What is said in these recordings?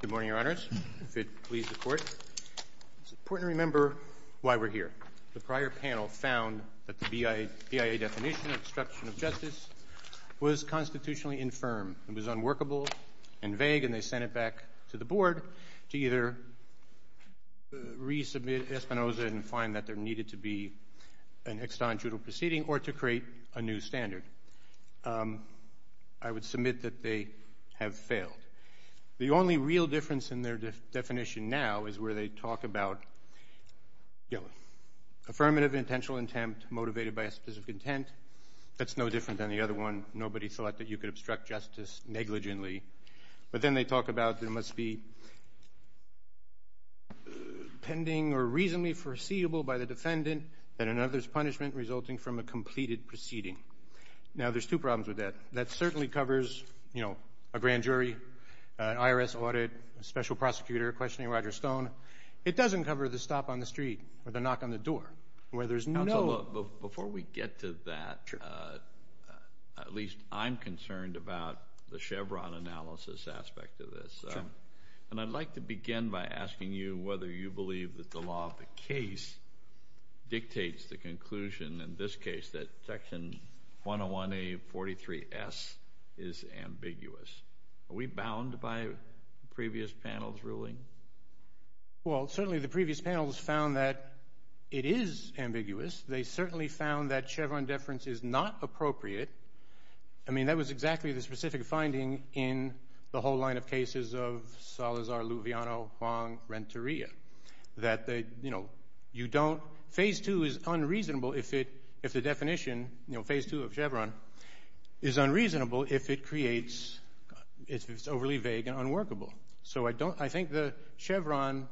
Good morning, your honors. If it pleases the court, it's important to remember why we're here. The prior panel found that the BIA definition of obstruction of justice was constitutionally infirm. It was unworkable and vague, and they sent it back to the board to either resubmit Espinoza and find that there needed to be an ex-tantrudo proceeding or to create a new standard. I would submit that they have failed. The only real difference in their definition now is where they talk about affirmative intentional intent motivated by a specific intent. That's no different than the other one. Nobody thought that you could obstruct justice negligently. But then they talk about there must be pending or reasonably foreseeable by the defendant that another's punishment resulting from a completed proceeding. Now, there's two problems with that. That certainly covers a grand jury, an IRS audit, a special prosecutor questioning Roger Stone. It doesn't cover the stop on the street or the knock on the door where there's no- Before we get to that, at least I'm concerned about the Chevron analysis aspect of this. And I'd like to begin by asking you whether you believe that the law of the case dictates the conclusion in this case that section 101A43S is ambiguous. Are we bound by the previous panel's ruling? Well, certainly the previous panel's found that it is ambiguous. They certainly found that Chevron deference is not appropriate. I mean, that was exactly the specific finding in the whole line of cases of Salazar, Luviano, Huang, Renteria, that you don't- Phase II of Chevron is unreasonable if it's overly vague and unworkable. So I think the Chevron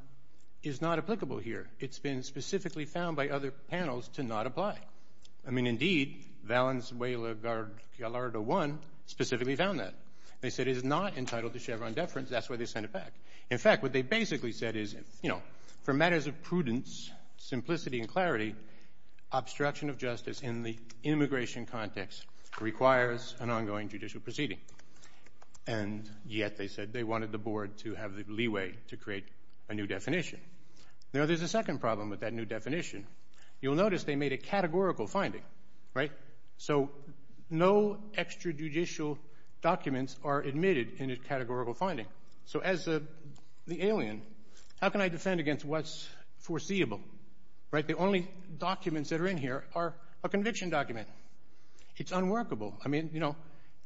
is not applicable here. It's been specifically found by other panels to not apply. I mean, indeed, Valenzuela-Gallardo I specifically found that. They said it is not entitled to Chevron deference. That's why they sent it back. In fact, what they basically said is, for matters of prudence, simplicity, and clarity, obstruction of justice in the immigration context requires an ongoing judicial proceeding. And yet, they said, they wanted the board to have the leeway to create a new definition. Now, there's a second problem with that new definition. You'll notice they made a categorical finding, right? So no extrajudicial documents are admitted in a categorical finding. So as the alien, how can I defend against what's foreseeable, right? The only documents that are in here are a conviction document. It's unworkable. I mean, you know,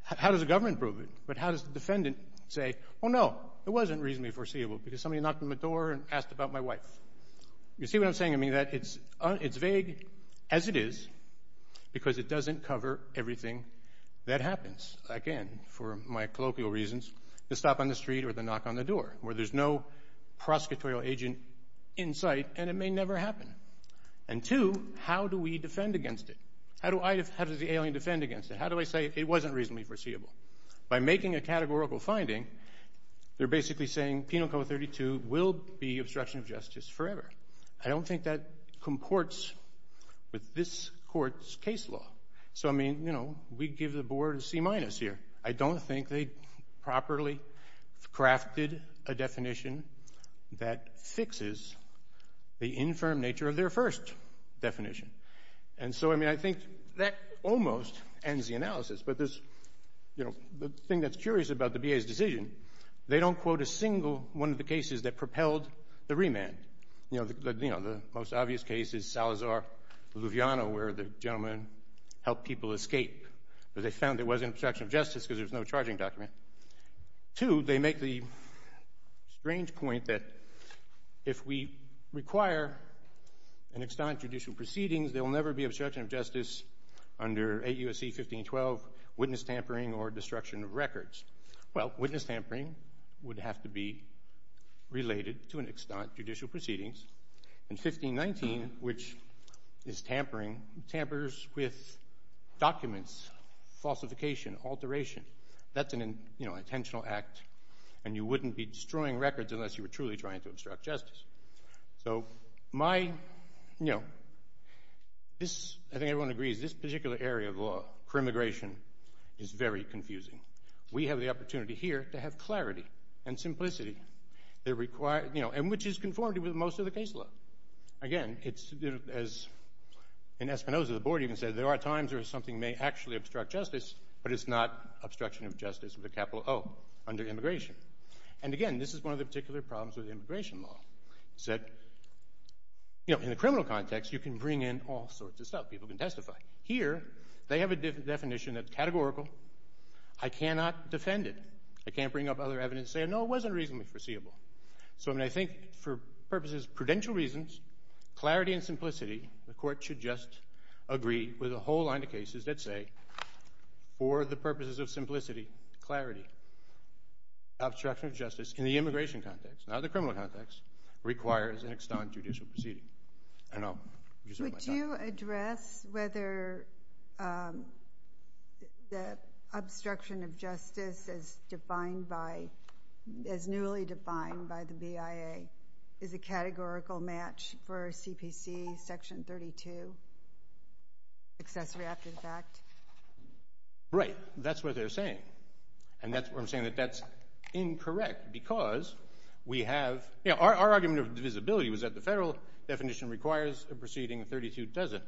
how does the government prove it? But how does the defendant say, oh no, it wasn't reasonably foreseeable because somebody knocked on my door and asked about my wife? You see what I'm saying? I mean, it's vague as it is because it doesn't cover everything that happens. Again, for my colloquial reasons, the stop on the street or the knock on the door, where there's no prosecutorial agent in sight and it may never happen. And two, how do we defend against it? How does the alien defend against it? How do I say it wasn't reasonably foreseeable? By making a categorical finding, they're basically saying Penal Code 32 will be obstruction of justice forever. I don't think that comports with this court's case law. So I mean, you know, we give the board a C minus here. I don't think they properly crafted a definition that fixes the infirm nature of their first definition. And so, I mean, I think that almost ends the analysis. But this, you know, the thing that's curious about the BA's decision, they don't quote a single one of the cases that propelled the remand. You know, the most obvious case is Salazar-Luviano, where the gentleman helped people escape. But they found there was an obstruction of justice because there was no charging document. Two, they make the strange point that if we require an extant judicial proceedings, there will never be obstruction of justice under 8 U.S.C. 1512, witness tampering or destruction of records. Well, witness tampering would have to be related to an extant judicial proceedings. And 1519, which is tampering, tampers with documents, falsification, alteration. That's an intentional act, and you wouldn't be destroying records unless you were truly trying to obstruct justice. So my, you know, this, I think everyone agrees, this particular area of law, per immigration, is very confusing. We have the opportunity here to have clarity and simplicity that require, you know, and which is conformity with most of the case law. Again, it's, as in Espinoza, the board even said, there are times where something may actually obstruct justice, but it's not obstruction of justice with a capital O under immigration. And again, this is one of the particular problems with immigration law, is that, you know, in the criminal context, you can bring in all sorts of stuff. People can testify. Here, they have a definition that's categorical. I cannot defend it. I can't bring up other evidence and say, no, it wasn't reasonably foreseeable. So I mean, I think for purposes of prudential reasons, clarity and simplicity, the court should just agree with a whole line of cases that say, for the purposes of simplicity, clarity, obstruction of justice in the immigration context, not the criminal context, requires an extant judicial proceeding. And I'll use up my time. Would you address whether the obstruction of justice as defined by, as newly defined by the BIA, is a categorical match for CPC section 32? Accessory after the fact? Right, that's what they're saying. And that's what I'm saying, that that's incorrect because we have, you know, our argument of divisibility was that the federal definition requires a proceeding 32 doesn't.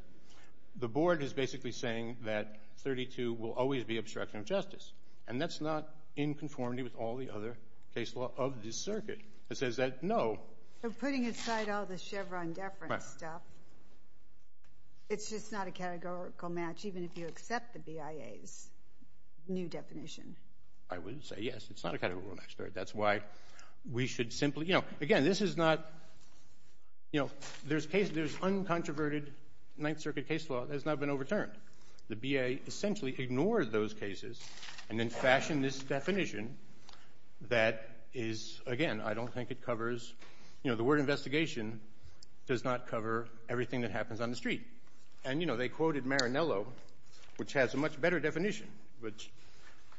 The board is basically saying that 32 will always be obstruction of justice. And that's not in conformity with all the other case law of this circuit. It says that, no. They're putting aside all the Chevron deference stuff. It's just not a categorical match, even if you accept the BIA's new definition. I would say yes, it's not a categorical match. That's why we should simply, you know, again, this is not, you know, there's cases, there's uncontroverted Ninth Circuit case law that has not been overturned. The BIA essentially ignored those cases and then fashioned this definition that is, again, I don't think it covers, you know, the word investigation does not cover everything that happens on the street. And, you know, they quoted Marinello, which has a much better definition, which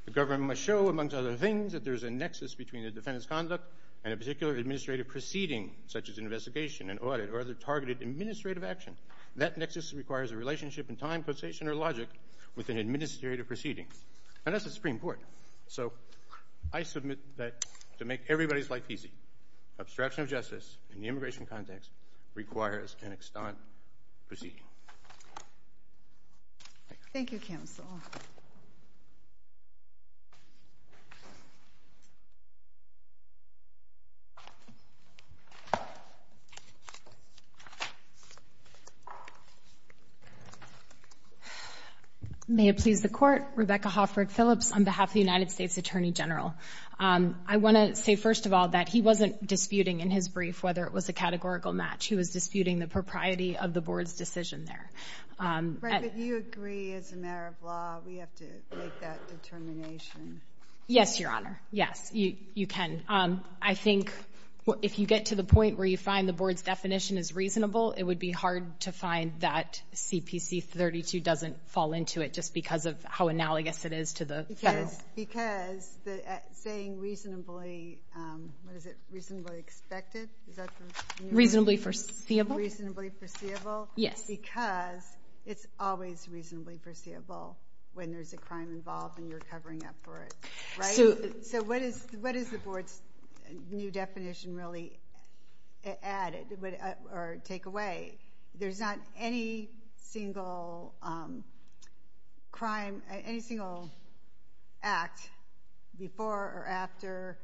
the government must show amongst other things that there's a nexus between the defendant's conduct and a particular administrative proceeding, such as an investigation, an audit, or other targeted administrative action. That nexus requires a relationship in time, quotation, or logic with an administrative proceeding. And that's the Supreme Court. So I submit that to make everybody's life easy, obstruction of justice in the immigration context requires an extant proceeding. Thank you, counsel. May it please the court, Rebecca Hofford Phillips on behalf of the United States Attorney General. I want to say, first of all, that he wasn't disputing in his brief whether it was a categorical match. He was disputing the propriety of the board's decision there. Rebecca, do you agree as a matter of law, we have to make that determination? Yes, Your Honor. Yes, you can. I think if you get to the point where you find the board's definition is reasonable, it would be hard to find that CPC 32 doesn't fall into it just because of how analogous it is to the federal. Because saying reasonably, what is it, reasonably expected? Is that the? Reasonably foreseeable. Reasonably foreseeable. Yes. Because it's always reasonably foreseeable when there's a crime involved and you're covering up for it, right? So what is the board's new definition really add or take away? There's not any single crime, any single act before or after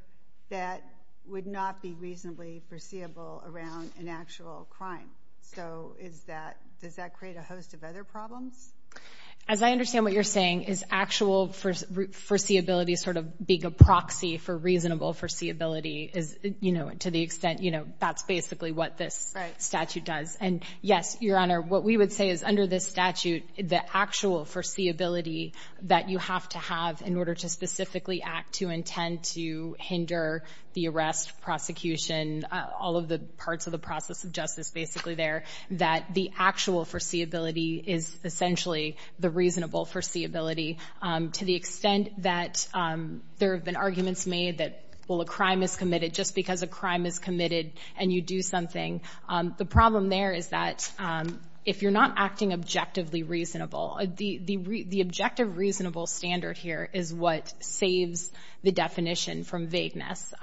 that would not be reasonably foreseeable around an actual crime. So is that, does that create a host of other problems? As I understand what you're saying is actual foreseeability sort of being a proxy for reasonable foreseeability is, to the extent that's basically what this statute does. And yes, Your Honor, what we would say is under this statute, the actual foreseeability that you have to have in order to specifically act to intend to hinder the arrest, prosecution, all of the parts of the process of justice basically there, that the actual foreseeability is essentially the reasonable foreseeability. To the extent that there have been arguments made that, well, a crime is committed just because a crime is committed and you do something. The problem there is that if you're not acting objectively reasonable, the objective reasonable standard here is what saves the definition from vagueness.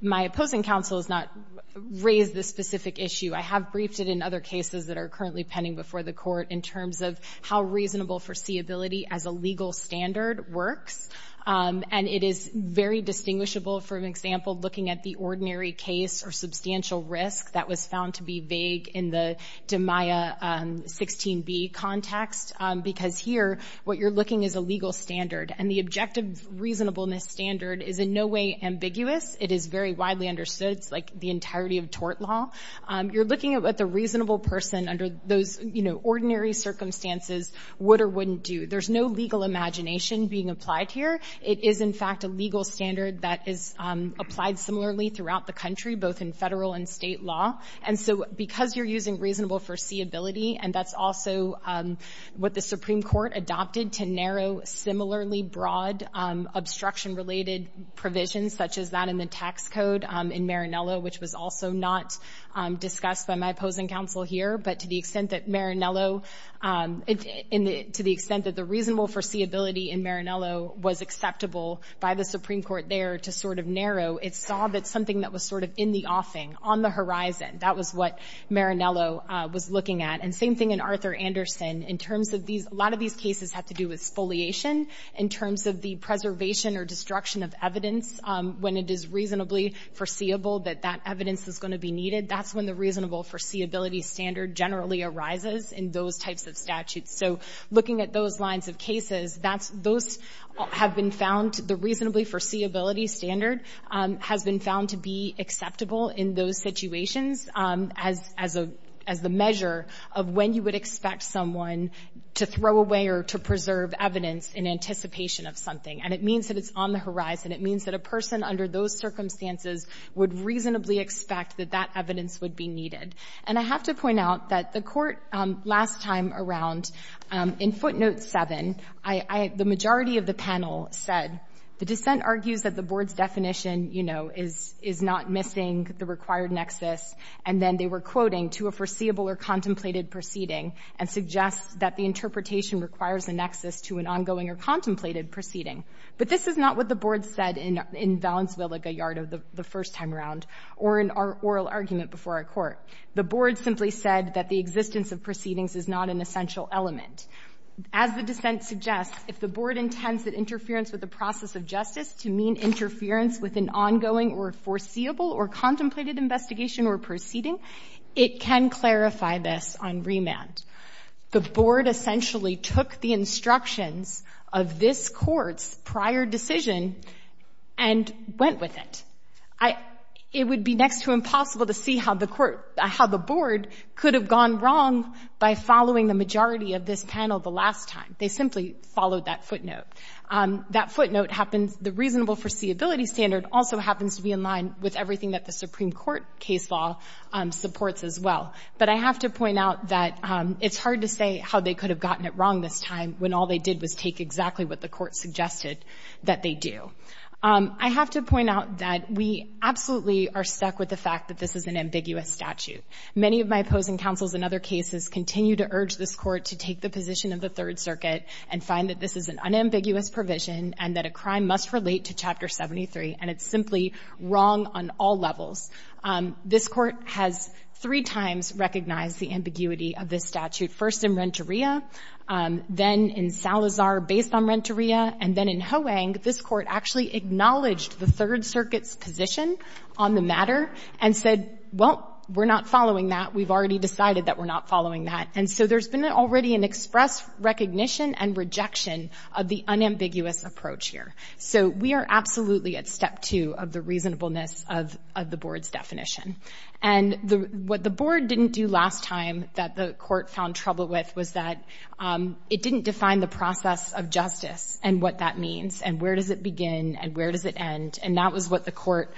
My opposing counsel has not raised this specific issue. I have briefed it in other cases that are currently pending before the court in terms of how reasonable foreseeability as a legal standard works. And it is very distinguishable, for example, looking at the ordinary case or substantial risk that was found to be vague in the DiMaia 16b context, because here what you're looking is a legal standard and the objective reasonableness standard is in no way ambiguous. It is very widely understood. It's like the entirety of tort law. You're looking at the reasonable person under those ordinary circumstances would or wouldn't do. There's no legal imagination being applied here. It is in fact a legal standard that is applied similarly throughout the country, both in federal and state law. And so because you're using reasonable foreseeability, and that's also what the Supreme Court adopted to narrow similarly broad obstruction-related provisions, such as that in the tax code in Marinello, which was also not discussed by my opposing counsel here, but to the extent that the reasonable foreseeability in Marinello was acceptable by the Supreme Court there to sort of narrow, it saw that something that was sort of in the offing, on the horizon, that was what Marinello was looking at. And same thing in Arthur Anderson. In terms of these, a lot of these cases have to do with spoliation in terms of the preservation or destruction of evidence when it is reasonably foreseeable that that evidence is gonna be needed. That's when the reasonable foreseeability standard generally arises in those types of statutes. So looking at those lines of cases, those have been found, the reasonably foreseeability standard has been found to be acceptable in those situations as the measure of when you would expect someone to throw away or to preserve evidence in anticipation of something. And it means that it's on the horizon. It means that a person under those circumstances would reasonably expect that that evidence would be needed. And I have to point out that the court last time around, in footnote seven, the majority of the panel said, the dissent argues that the board's definition is not missing the required nexus. And then they were quoting to a foreseeable or contemplated proceeding and suggest that the interpretation requires a nexus to an ongoing or contemplated proceeding. But this is not what the board said in Valenzuela-Gallardo the first time around or in our oral argument before our court. The board simply said that the existence of proceedings is not an essential element. As the dissent suggests, if the board intends that interference with the process of justice to mean interference with an ongoing or foreseeable or contemplated investigation or proceeding, it can clarify this on remand. The board essentially took the instructions of this court's prior decision and went with it. It would be next to impossible to see how the board could have gone wrong by following the majority of this panel the last time. They simply followed that footnote. That footnote happens, the reasonable foreseeability standard also happens to be in line with everything that the Supreme Court case law supports as well. But I have to point out that it's hard to say how they could have gotten it wrong this time when all they did was take exactly what the court suggested that they do. I have to point out that we absolutely are stuck with the fact that this is an ambiguous statute. Many of my opposing counsels in other cases continue to urge this court to take the position of the Third Circuit and find that this is an unambiguous provision and that a crime must relate to Chapter 73 and it's simply wrong on all levels. This court has three times recognized the ambiguity of this statute. First in Renteria, then in Salazar based on Renteria, and then in Hoang, this court actually acknowledged the Third Circuit's position on the matter and said, well, we're not following that. We've already decided that we're not following that. And so there's been already an express recognition and rejection of the unambiguous approach here. So we are absolutely at step two of the reasonableness of the board's definition. And what the board didn't do last time that the court found trouble with was that it didn't define the process of justice and what that means and where does it begin and where does it end? And that was what the court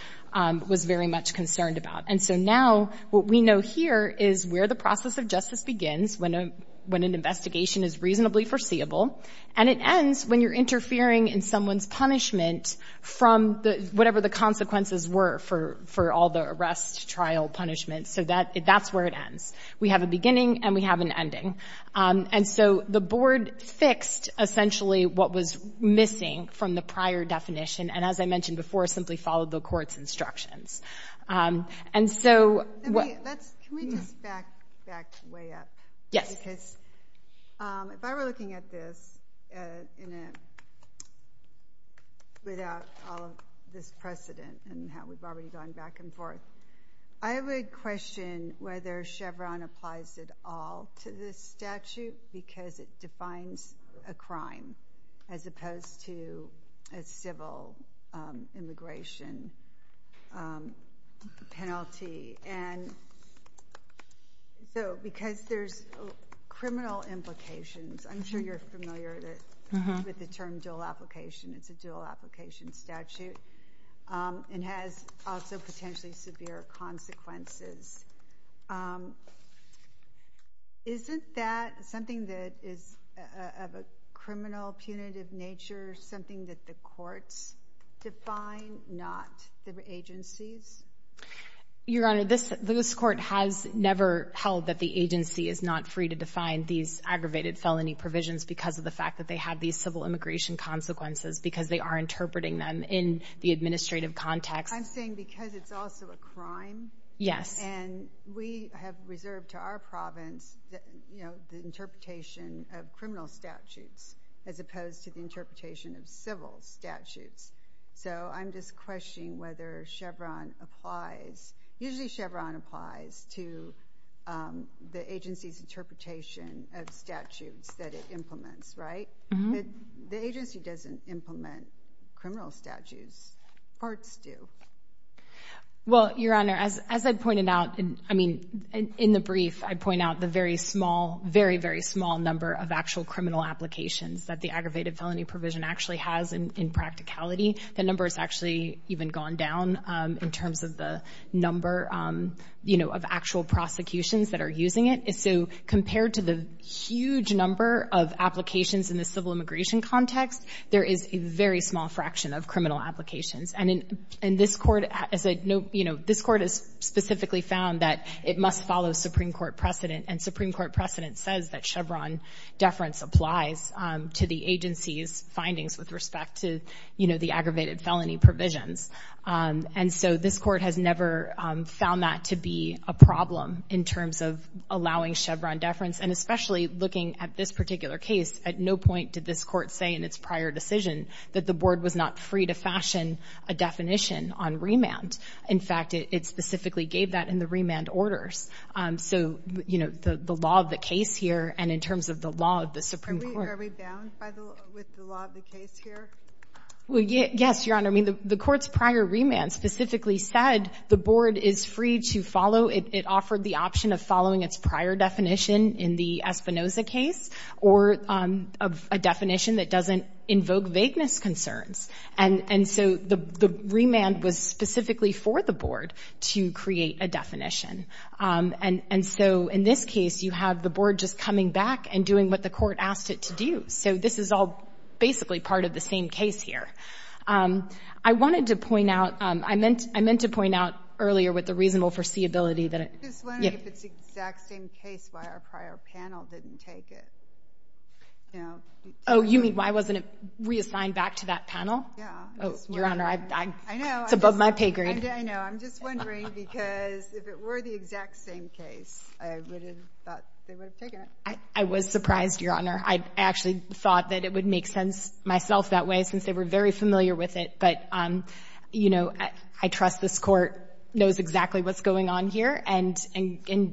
was very much concerned about. And so now what we know here is where the process of justice begins when an investigation is reasonably foreseeable and it ends when you're interfering in someone's punishment from whatever the consequences were for all the arrest, trial, punishment. So that's where it ends. We have a beginning and we have an ending. And so the board fixed essentially what was missing from the prior definition. And as I mentioned before, simply followed the court's instructions. And so- Can we just back way up? Yes. Because if I were looking at this without all of this precedent and how we've already gone back and forth, to this statute because it defines a crime as opposed to a civil immigration penalty. And so because there's criminal implications, I'm sure you're familiar with the term dual application. It's a dual application statute and has also potentially severe consequences. Isn't that something that is of a criminal punitive nature, something that the courts define, not the agencies? Your Honor, this court has never held that the agency is not free to define these aggravated felony provisions because of the fact that they have these civil immigration consequences because they are interpreting them in the administrative context. I'm saying because it's also a crime. Yes. And we have reserved to our province the interpretation of criminal statutes as opposed to the interpretation of civil statutes. So I'm just questioning whether Chevron applies. Usually Chevron applies to the agency's interpretation of statutes that it implements, right? The agency doesn't implement criminal statutes. Courts do. Well, Your Honor, as I pointed out, I mean, in the brief, I point out the very small, very, very small number of actual criminal applications that the aggravated felony provision actually has in practicality. The number has actually even gone down in terms of the number of actual prosecutions that are using it. So compared to the huge number of applications in the civil immigration context, there is a very small fraction of criminal applications. And this court has specifically found that it must follow Supreme Court precedent. And Supreme Court precedent says that Chevron deference applies to the agency's findings with respect to the aggravated felony provisions. And so this court has never found that to be a problem in terms of allowing Chevron deference. And especially looking at this particular case, at no point did this court say in its prior decision that the board was not free to fashion a definition on remand. In fact, it specifically gave that in the remand orders. So, you know, the law of the case here and in terms of the law of the Supreme Court. Are we bound with the law of the case here? Well, yes, Your Honor. I mean, the court's prior remand specifically said the board is free to follow, it offered the option of following its prior definition in the Espinoza case or a definition that doesn't invoke vagueness concerns. And so the remand was specifically for the board to create a definition. And so in this case, you have the board just coming back and doing what the court asked it to do. So this is all basically part of the same case here. I wanted to point out, I meant to point out earlier with the reasonable foreseeability that it- Just wondering if it's the exact same case why our prior panel didn't take it. You know? Oh, you mean why wasn't it reassigned back to that panel? Yeah. Oh, Your Honor, it's above my pay grade. I know, I'm just wondering because if it were the exact same case, I would have thought they would have taken it. I was surprised, Your Honor. I actually thought that it would make sense myself that way since they were very familiar with it. But, you know, I trust this court knows exactly what's going on here and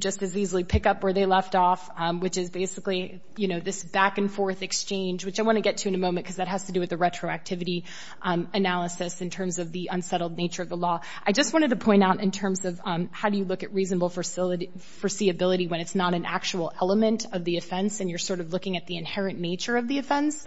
just as easily pick up where they left off, which is basically, you know, this back and forth exchange, which I wanna get to in a moment because that has to do with the retroactivity analysis in terms of the unsettled nature of the law. I just wanted to point out in terms of how do you look at reasonable foreseeability when it's not an actual element of the offense and you're sort of looking at the inherent nature of the offense.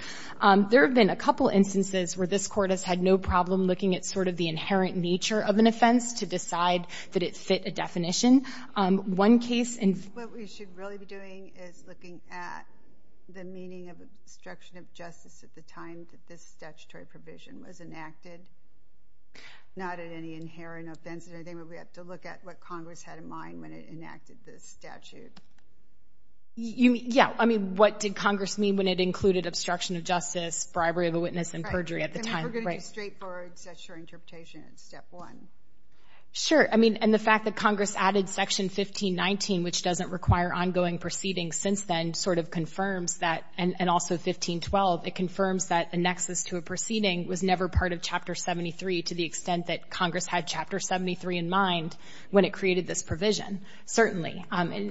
There have been a couple instances where this court has had no problem looking at sort of the inherent nature of an offense to decide that it fit a definition. One case in- is looking at the meaning of obstruction of justice at the time that this statutory provision was enacted. Not at any inherent offense or anything, but we have to look at what Congress had in mind when it enacted this statute. You mean, yeah. I mean, what did Congress mean when it included obstruction of justice, bribery of a witness, and perjury at the time? We're gonna do straightforward statutory interpretation in step one. Sure, I mean, and the fact that Congress added section 1519, which doesn't require ongoing proceeding since then, sort of confirms that, and also 1512, it confirms that a nexus to a proceeding was never part of chapter 73 to the extent that Congress had chapter 73 in mind when it created this provision. Certainly,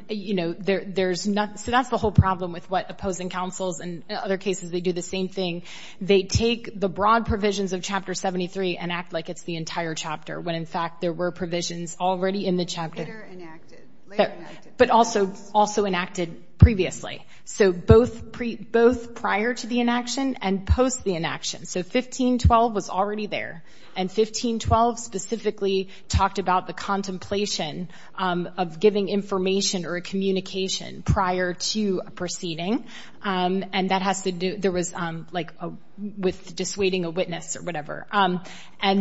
you know, there's not, so that's the whole problem with what opposing counsels and other cases, they do the same thing. They take the broad provisions of chapter 73 and act like it's the entire chapter when in fact there were provisions already in the chapter. Later enacted, later enacted. But also enacted previously. So both prior to the inaction and post the inaction. So 1512 was already there. And 1512 specifically talked about the contemplation of giving information or a communication prior to a proceeding. And that has to do, there was like, with dissuading a witness or whatever. And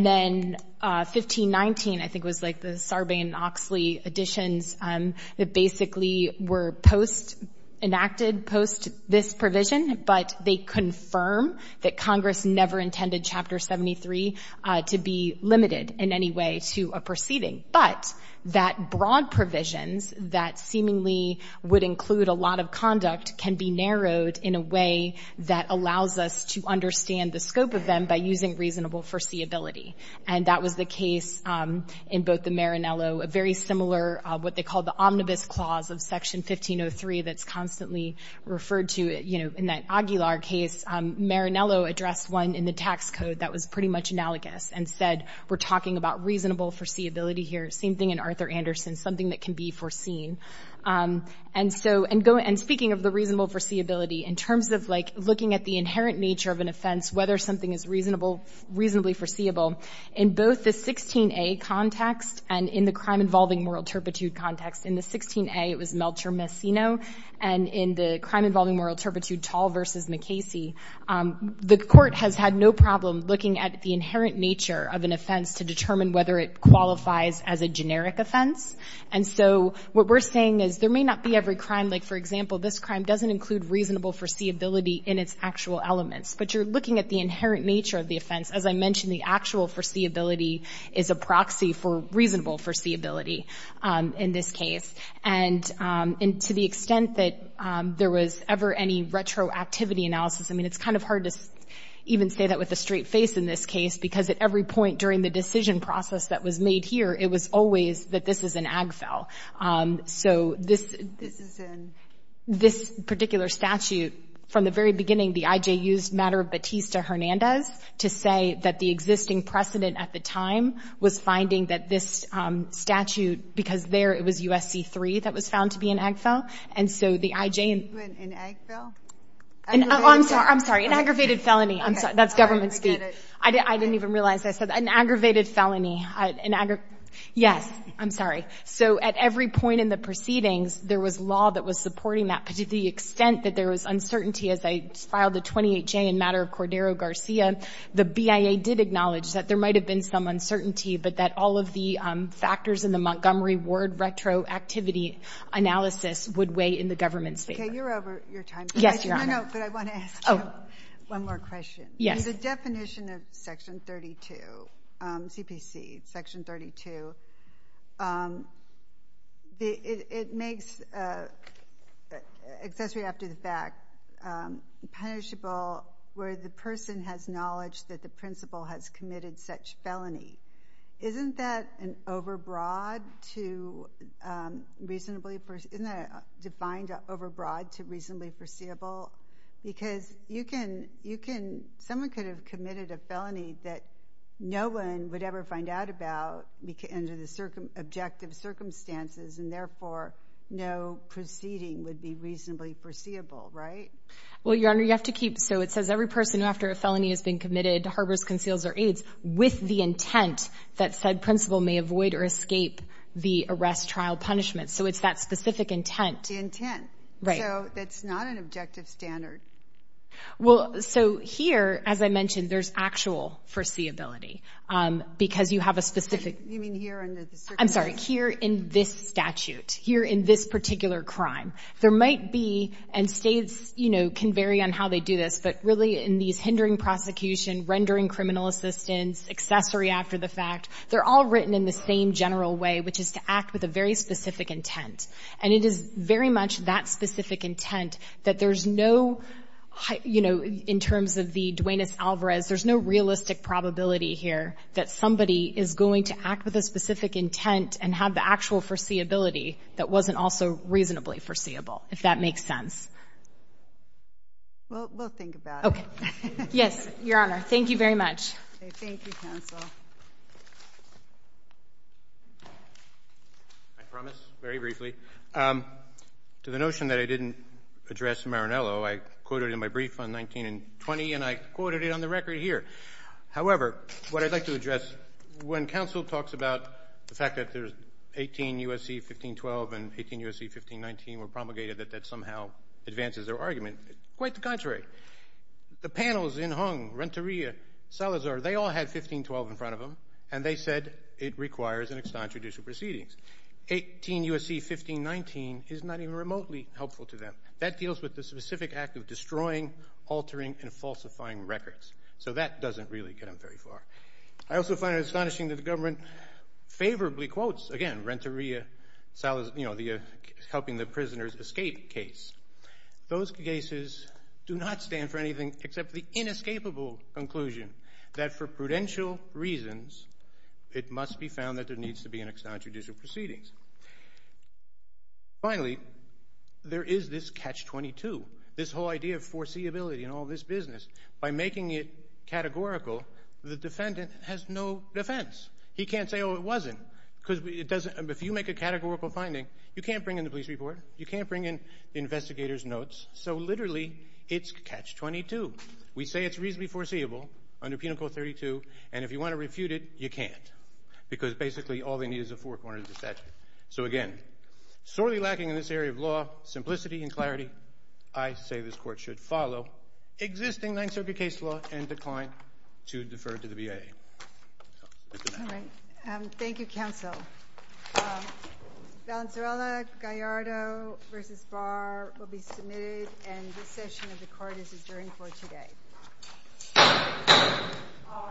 then 1519, I think was like the Sarbane-Oxley additions that basically were post enacted, post this provision, but they confirm that Congress never intended chapter 73 to be limited in any way to a proceeding. But that broad provisions that seemingly would include a lot of conduct can be narrowed in a way that allows us to understand the scope of them by using reasonable foreseeability. And that was the case in both the Marinello, a very similar, what they call the omnibus clause of section 1503 that's constantly referred to, in that Aguilar case, Marinello addressed one in the tax code that was pretty much analogous and said, we're talking about reasonable foreseeability here same thing in Arthur Anderson, something that can be foreseen. And so, and speaking of the reasonable foreseeability, in terms of like looking at the inherent nature of an offense, whether something is reasonable, reasonably foreseeable, in both the 16A context and in the crime involving moral turpitude context, in the 16A, it was Meltzer-Massino and in the crime involving moral turpitude, Tall versus McKasey, the court has had no problem looking at the inherent nature of an offense to determine whether it qualifies as a generic offense. And so what we're saying is there may not be every crime, like for example, this crime doesn't include reasonable foreseeability in its actual elements, but you're looking at the inherent nature of the offense. As I mentioned, the actual foreseeability is a proxy for reasonable foreseeability in this case. And to the extent that there was ever any retroactivity analysis, I mean, it's kind of hard to even say that with a straight face in this case, because at every point during the decision process that was made here, it was always that this is an AGFEL. So this particular statute, from the very beginning, the IJ used matter of Batista-Hernandez to say that the existing precedent at the time was finding that this statute, because there it was USC-3 that was found to be an AGFEL. And so the IJ and... In AGFEL? Oh, I'm sorry, an aggravated felony. I'm sorry, that's government speak. I didn't even realize I said, an aggravated felony. Yes, I'm sorry. So at every point in the proceedings, there was law that was supporting that, but to the extent that there was uncertainty as I filed the 28-J in matter of Cordero-Garcia, the BIA did acknowledge that there might have been some uncertainty, but that all of the factors in the Montgomery Ward retroactivity analysis would weigh in the government's favor. Okay, you're over your time. Yes, Your Honor. No, no, but I want to ask you one more question. Yes. The definition of section 32, CPC section 32, it makes accessory after the fact punishable where the person has knowledge that the principal has committed such felony. Isn't that an overbroad to reasonably, isn't that defined overbroad to reasonably foreseeable? Because you can, someone could have committed a felony that no one would ever find out about under the objective circumstances, and therefore no proceeding would be reasonably foreseeable, right? Well, Your Honor, you have to keep, so it says every person after a felony has been committed harbors, conceals, or aids with the intent that said principal may avoid or escape the arrest trial punishment. So it's that specific intent. The intent. Right. So that's not an objective standard. Well, so here, as I mentioned, there's actual foreseeability because you have a specific. You mean here under the circumstances? I'm sorry, here in this statute, here in this particular crime. There might be, and states can vary on how they do this, but really in these hindering prosecution, rendering criminal assistance, accessory after the fact, they're all written in the same general way, which is to act with a very specific intent. And it is very much that specific intent that there's no, in terms of the Duenas-Alvarez, there's no realistic probability here that somebody is going to act with a specific intent and have the actual foreseeability that wasn't also reasonably foreseeable, if that makes sense. Well, we'll think about it. Okay. Yes, Your Honor. Thank you very much. Thank you, counsel. I promise, very briefly, to the notion that I didn't address Marinello, I quoted in my brief on 1920, and I quoted it on the record here. However, what I'd like to address, when counsel talks about the fact that there's 18 U.S.C. 1512 and 18 U.S.C. 1519 were promulgated, that that somehow advances their argument. Quite the contrary. The panels in Hong, Renteria, Salazar, they all had 1512 in front of them, and they said it requires an extant judicial proceedings. 18 U.S.C. 1519 is not even remotely helpful to them. That deals with the specific act of destroying, altering, and falsifying records. So that doesn't really get them very far. I also find it astonishing that the government favorably quotes, again, Renteria, Salazar, you know, helping the prisoners escape case. Those cases do not stand for anything except the inescapable conclusion that for prudential reasons, it must be found that there needs to be an extant judicial proceedings. Finally, there is this catch-22, this whole idea of foreseeability in all this business. By making it categorical, the defendant has no defense. He can't say, oh, it wasn't, because if you make a categorical finding, you can't bring in the police report, you can't bring in the investigator's notes. So literally, it's catch-22. We say it's reasonably foreseeable under Penal Code 32, and if you want to refute it, you can't, because basically all they need is a four-cornered statute. So again, sorely lacking in this area of law, simplicity and clarity, I say this court should follow existing Ninth Circuit case law and decline to defer to the BIA. All right. Thank you, counsel. Valenzuela-Gallardo v. Barr will be submitted, and this session of the court is adjourned for today. All rise.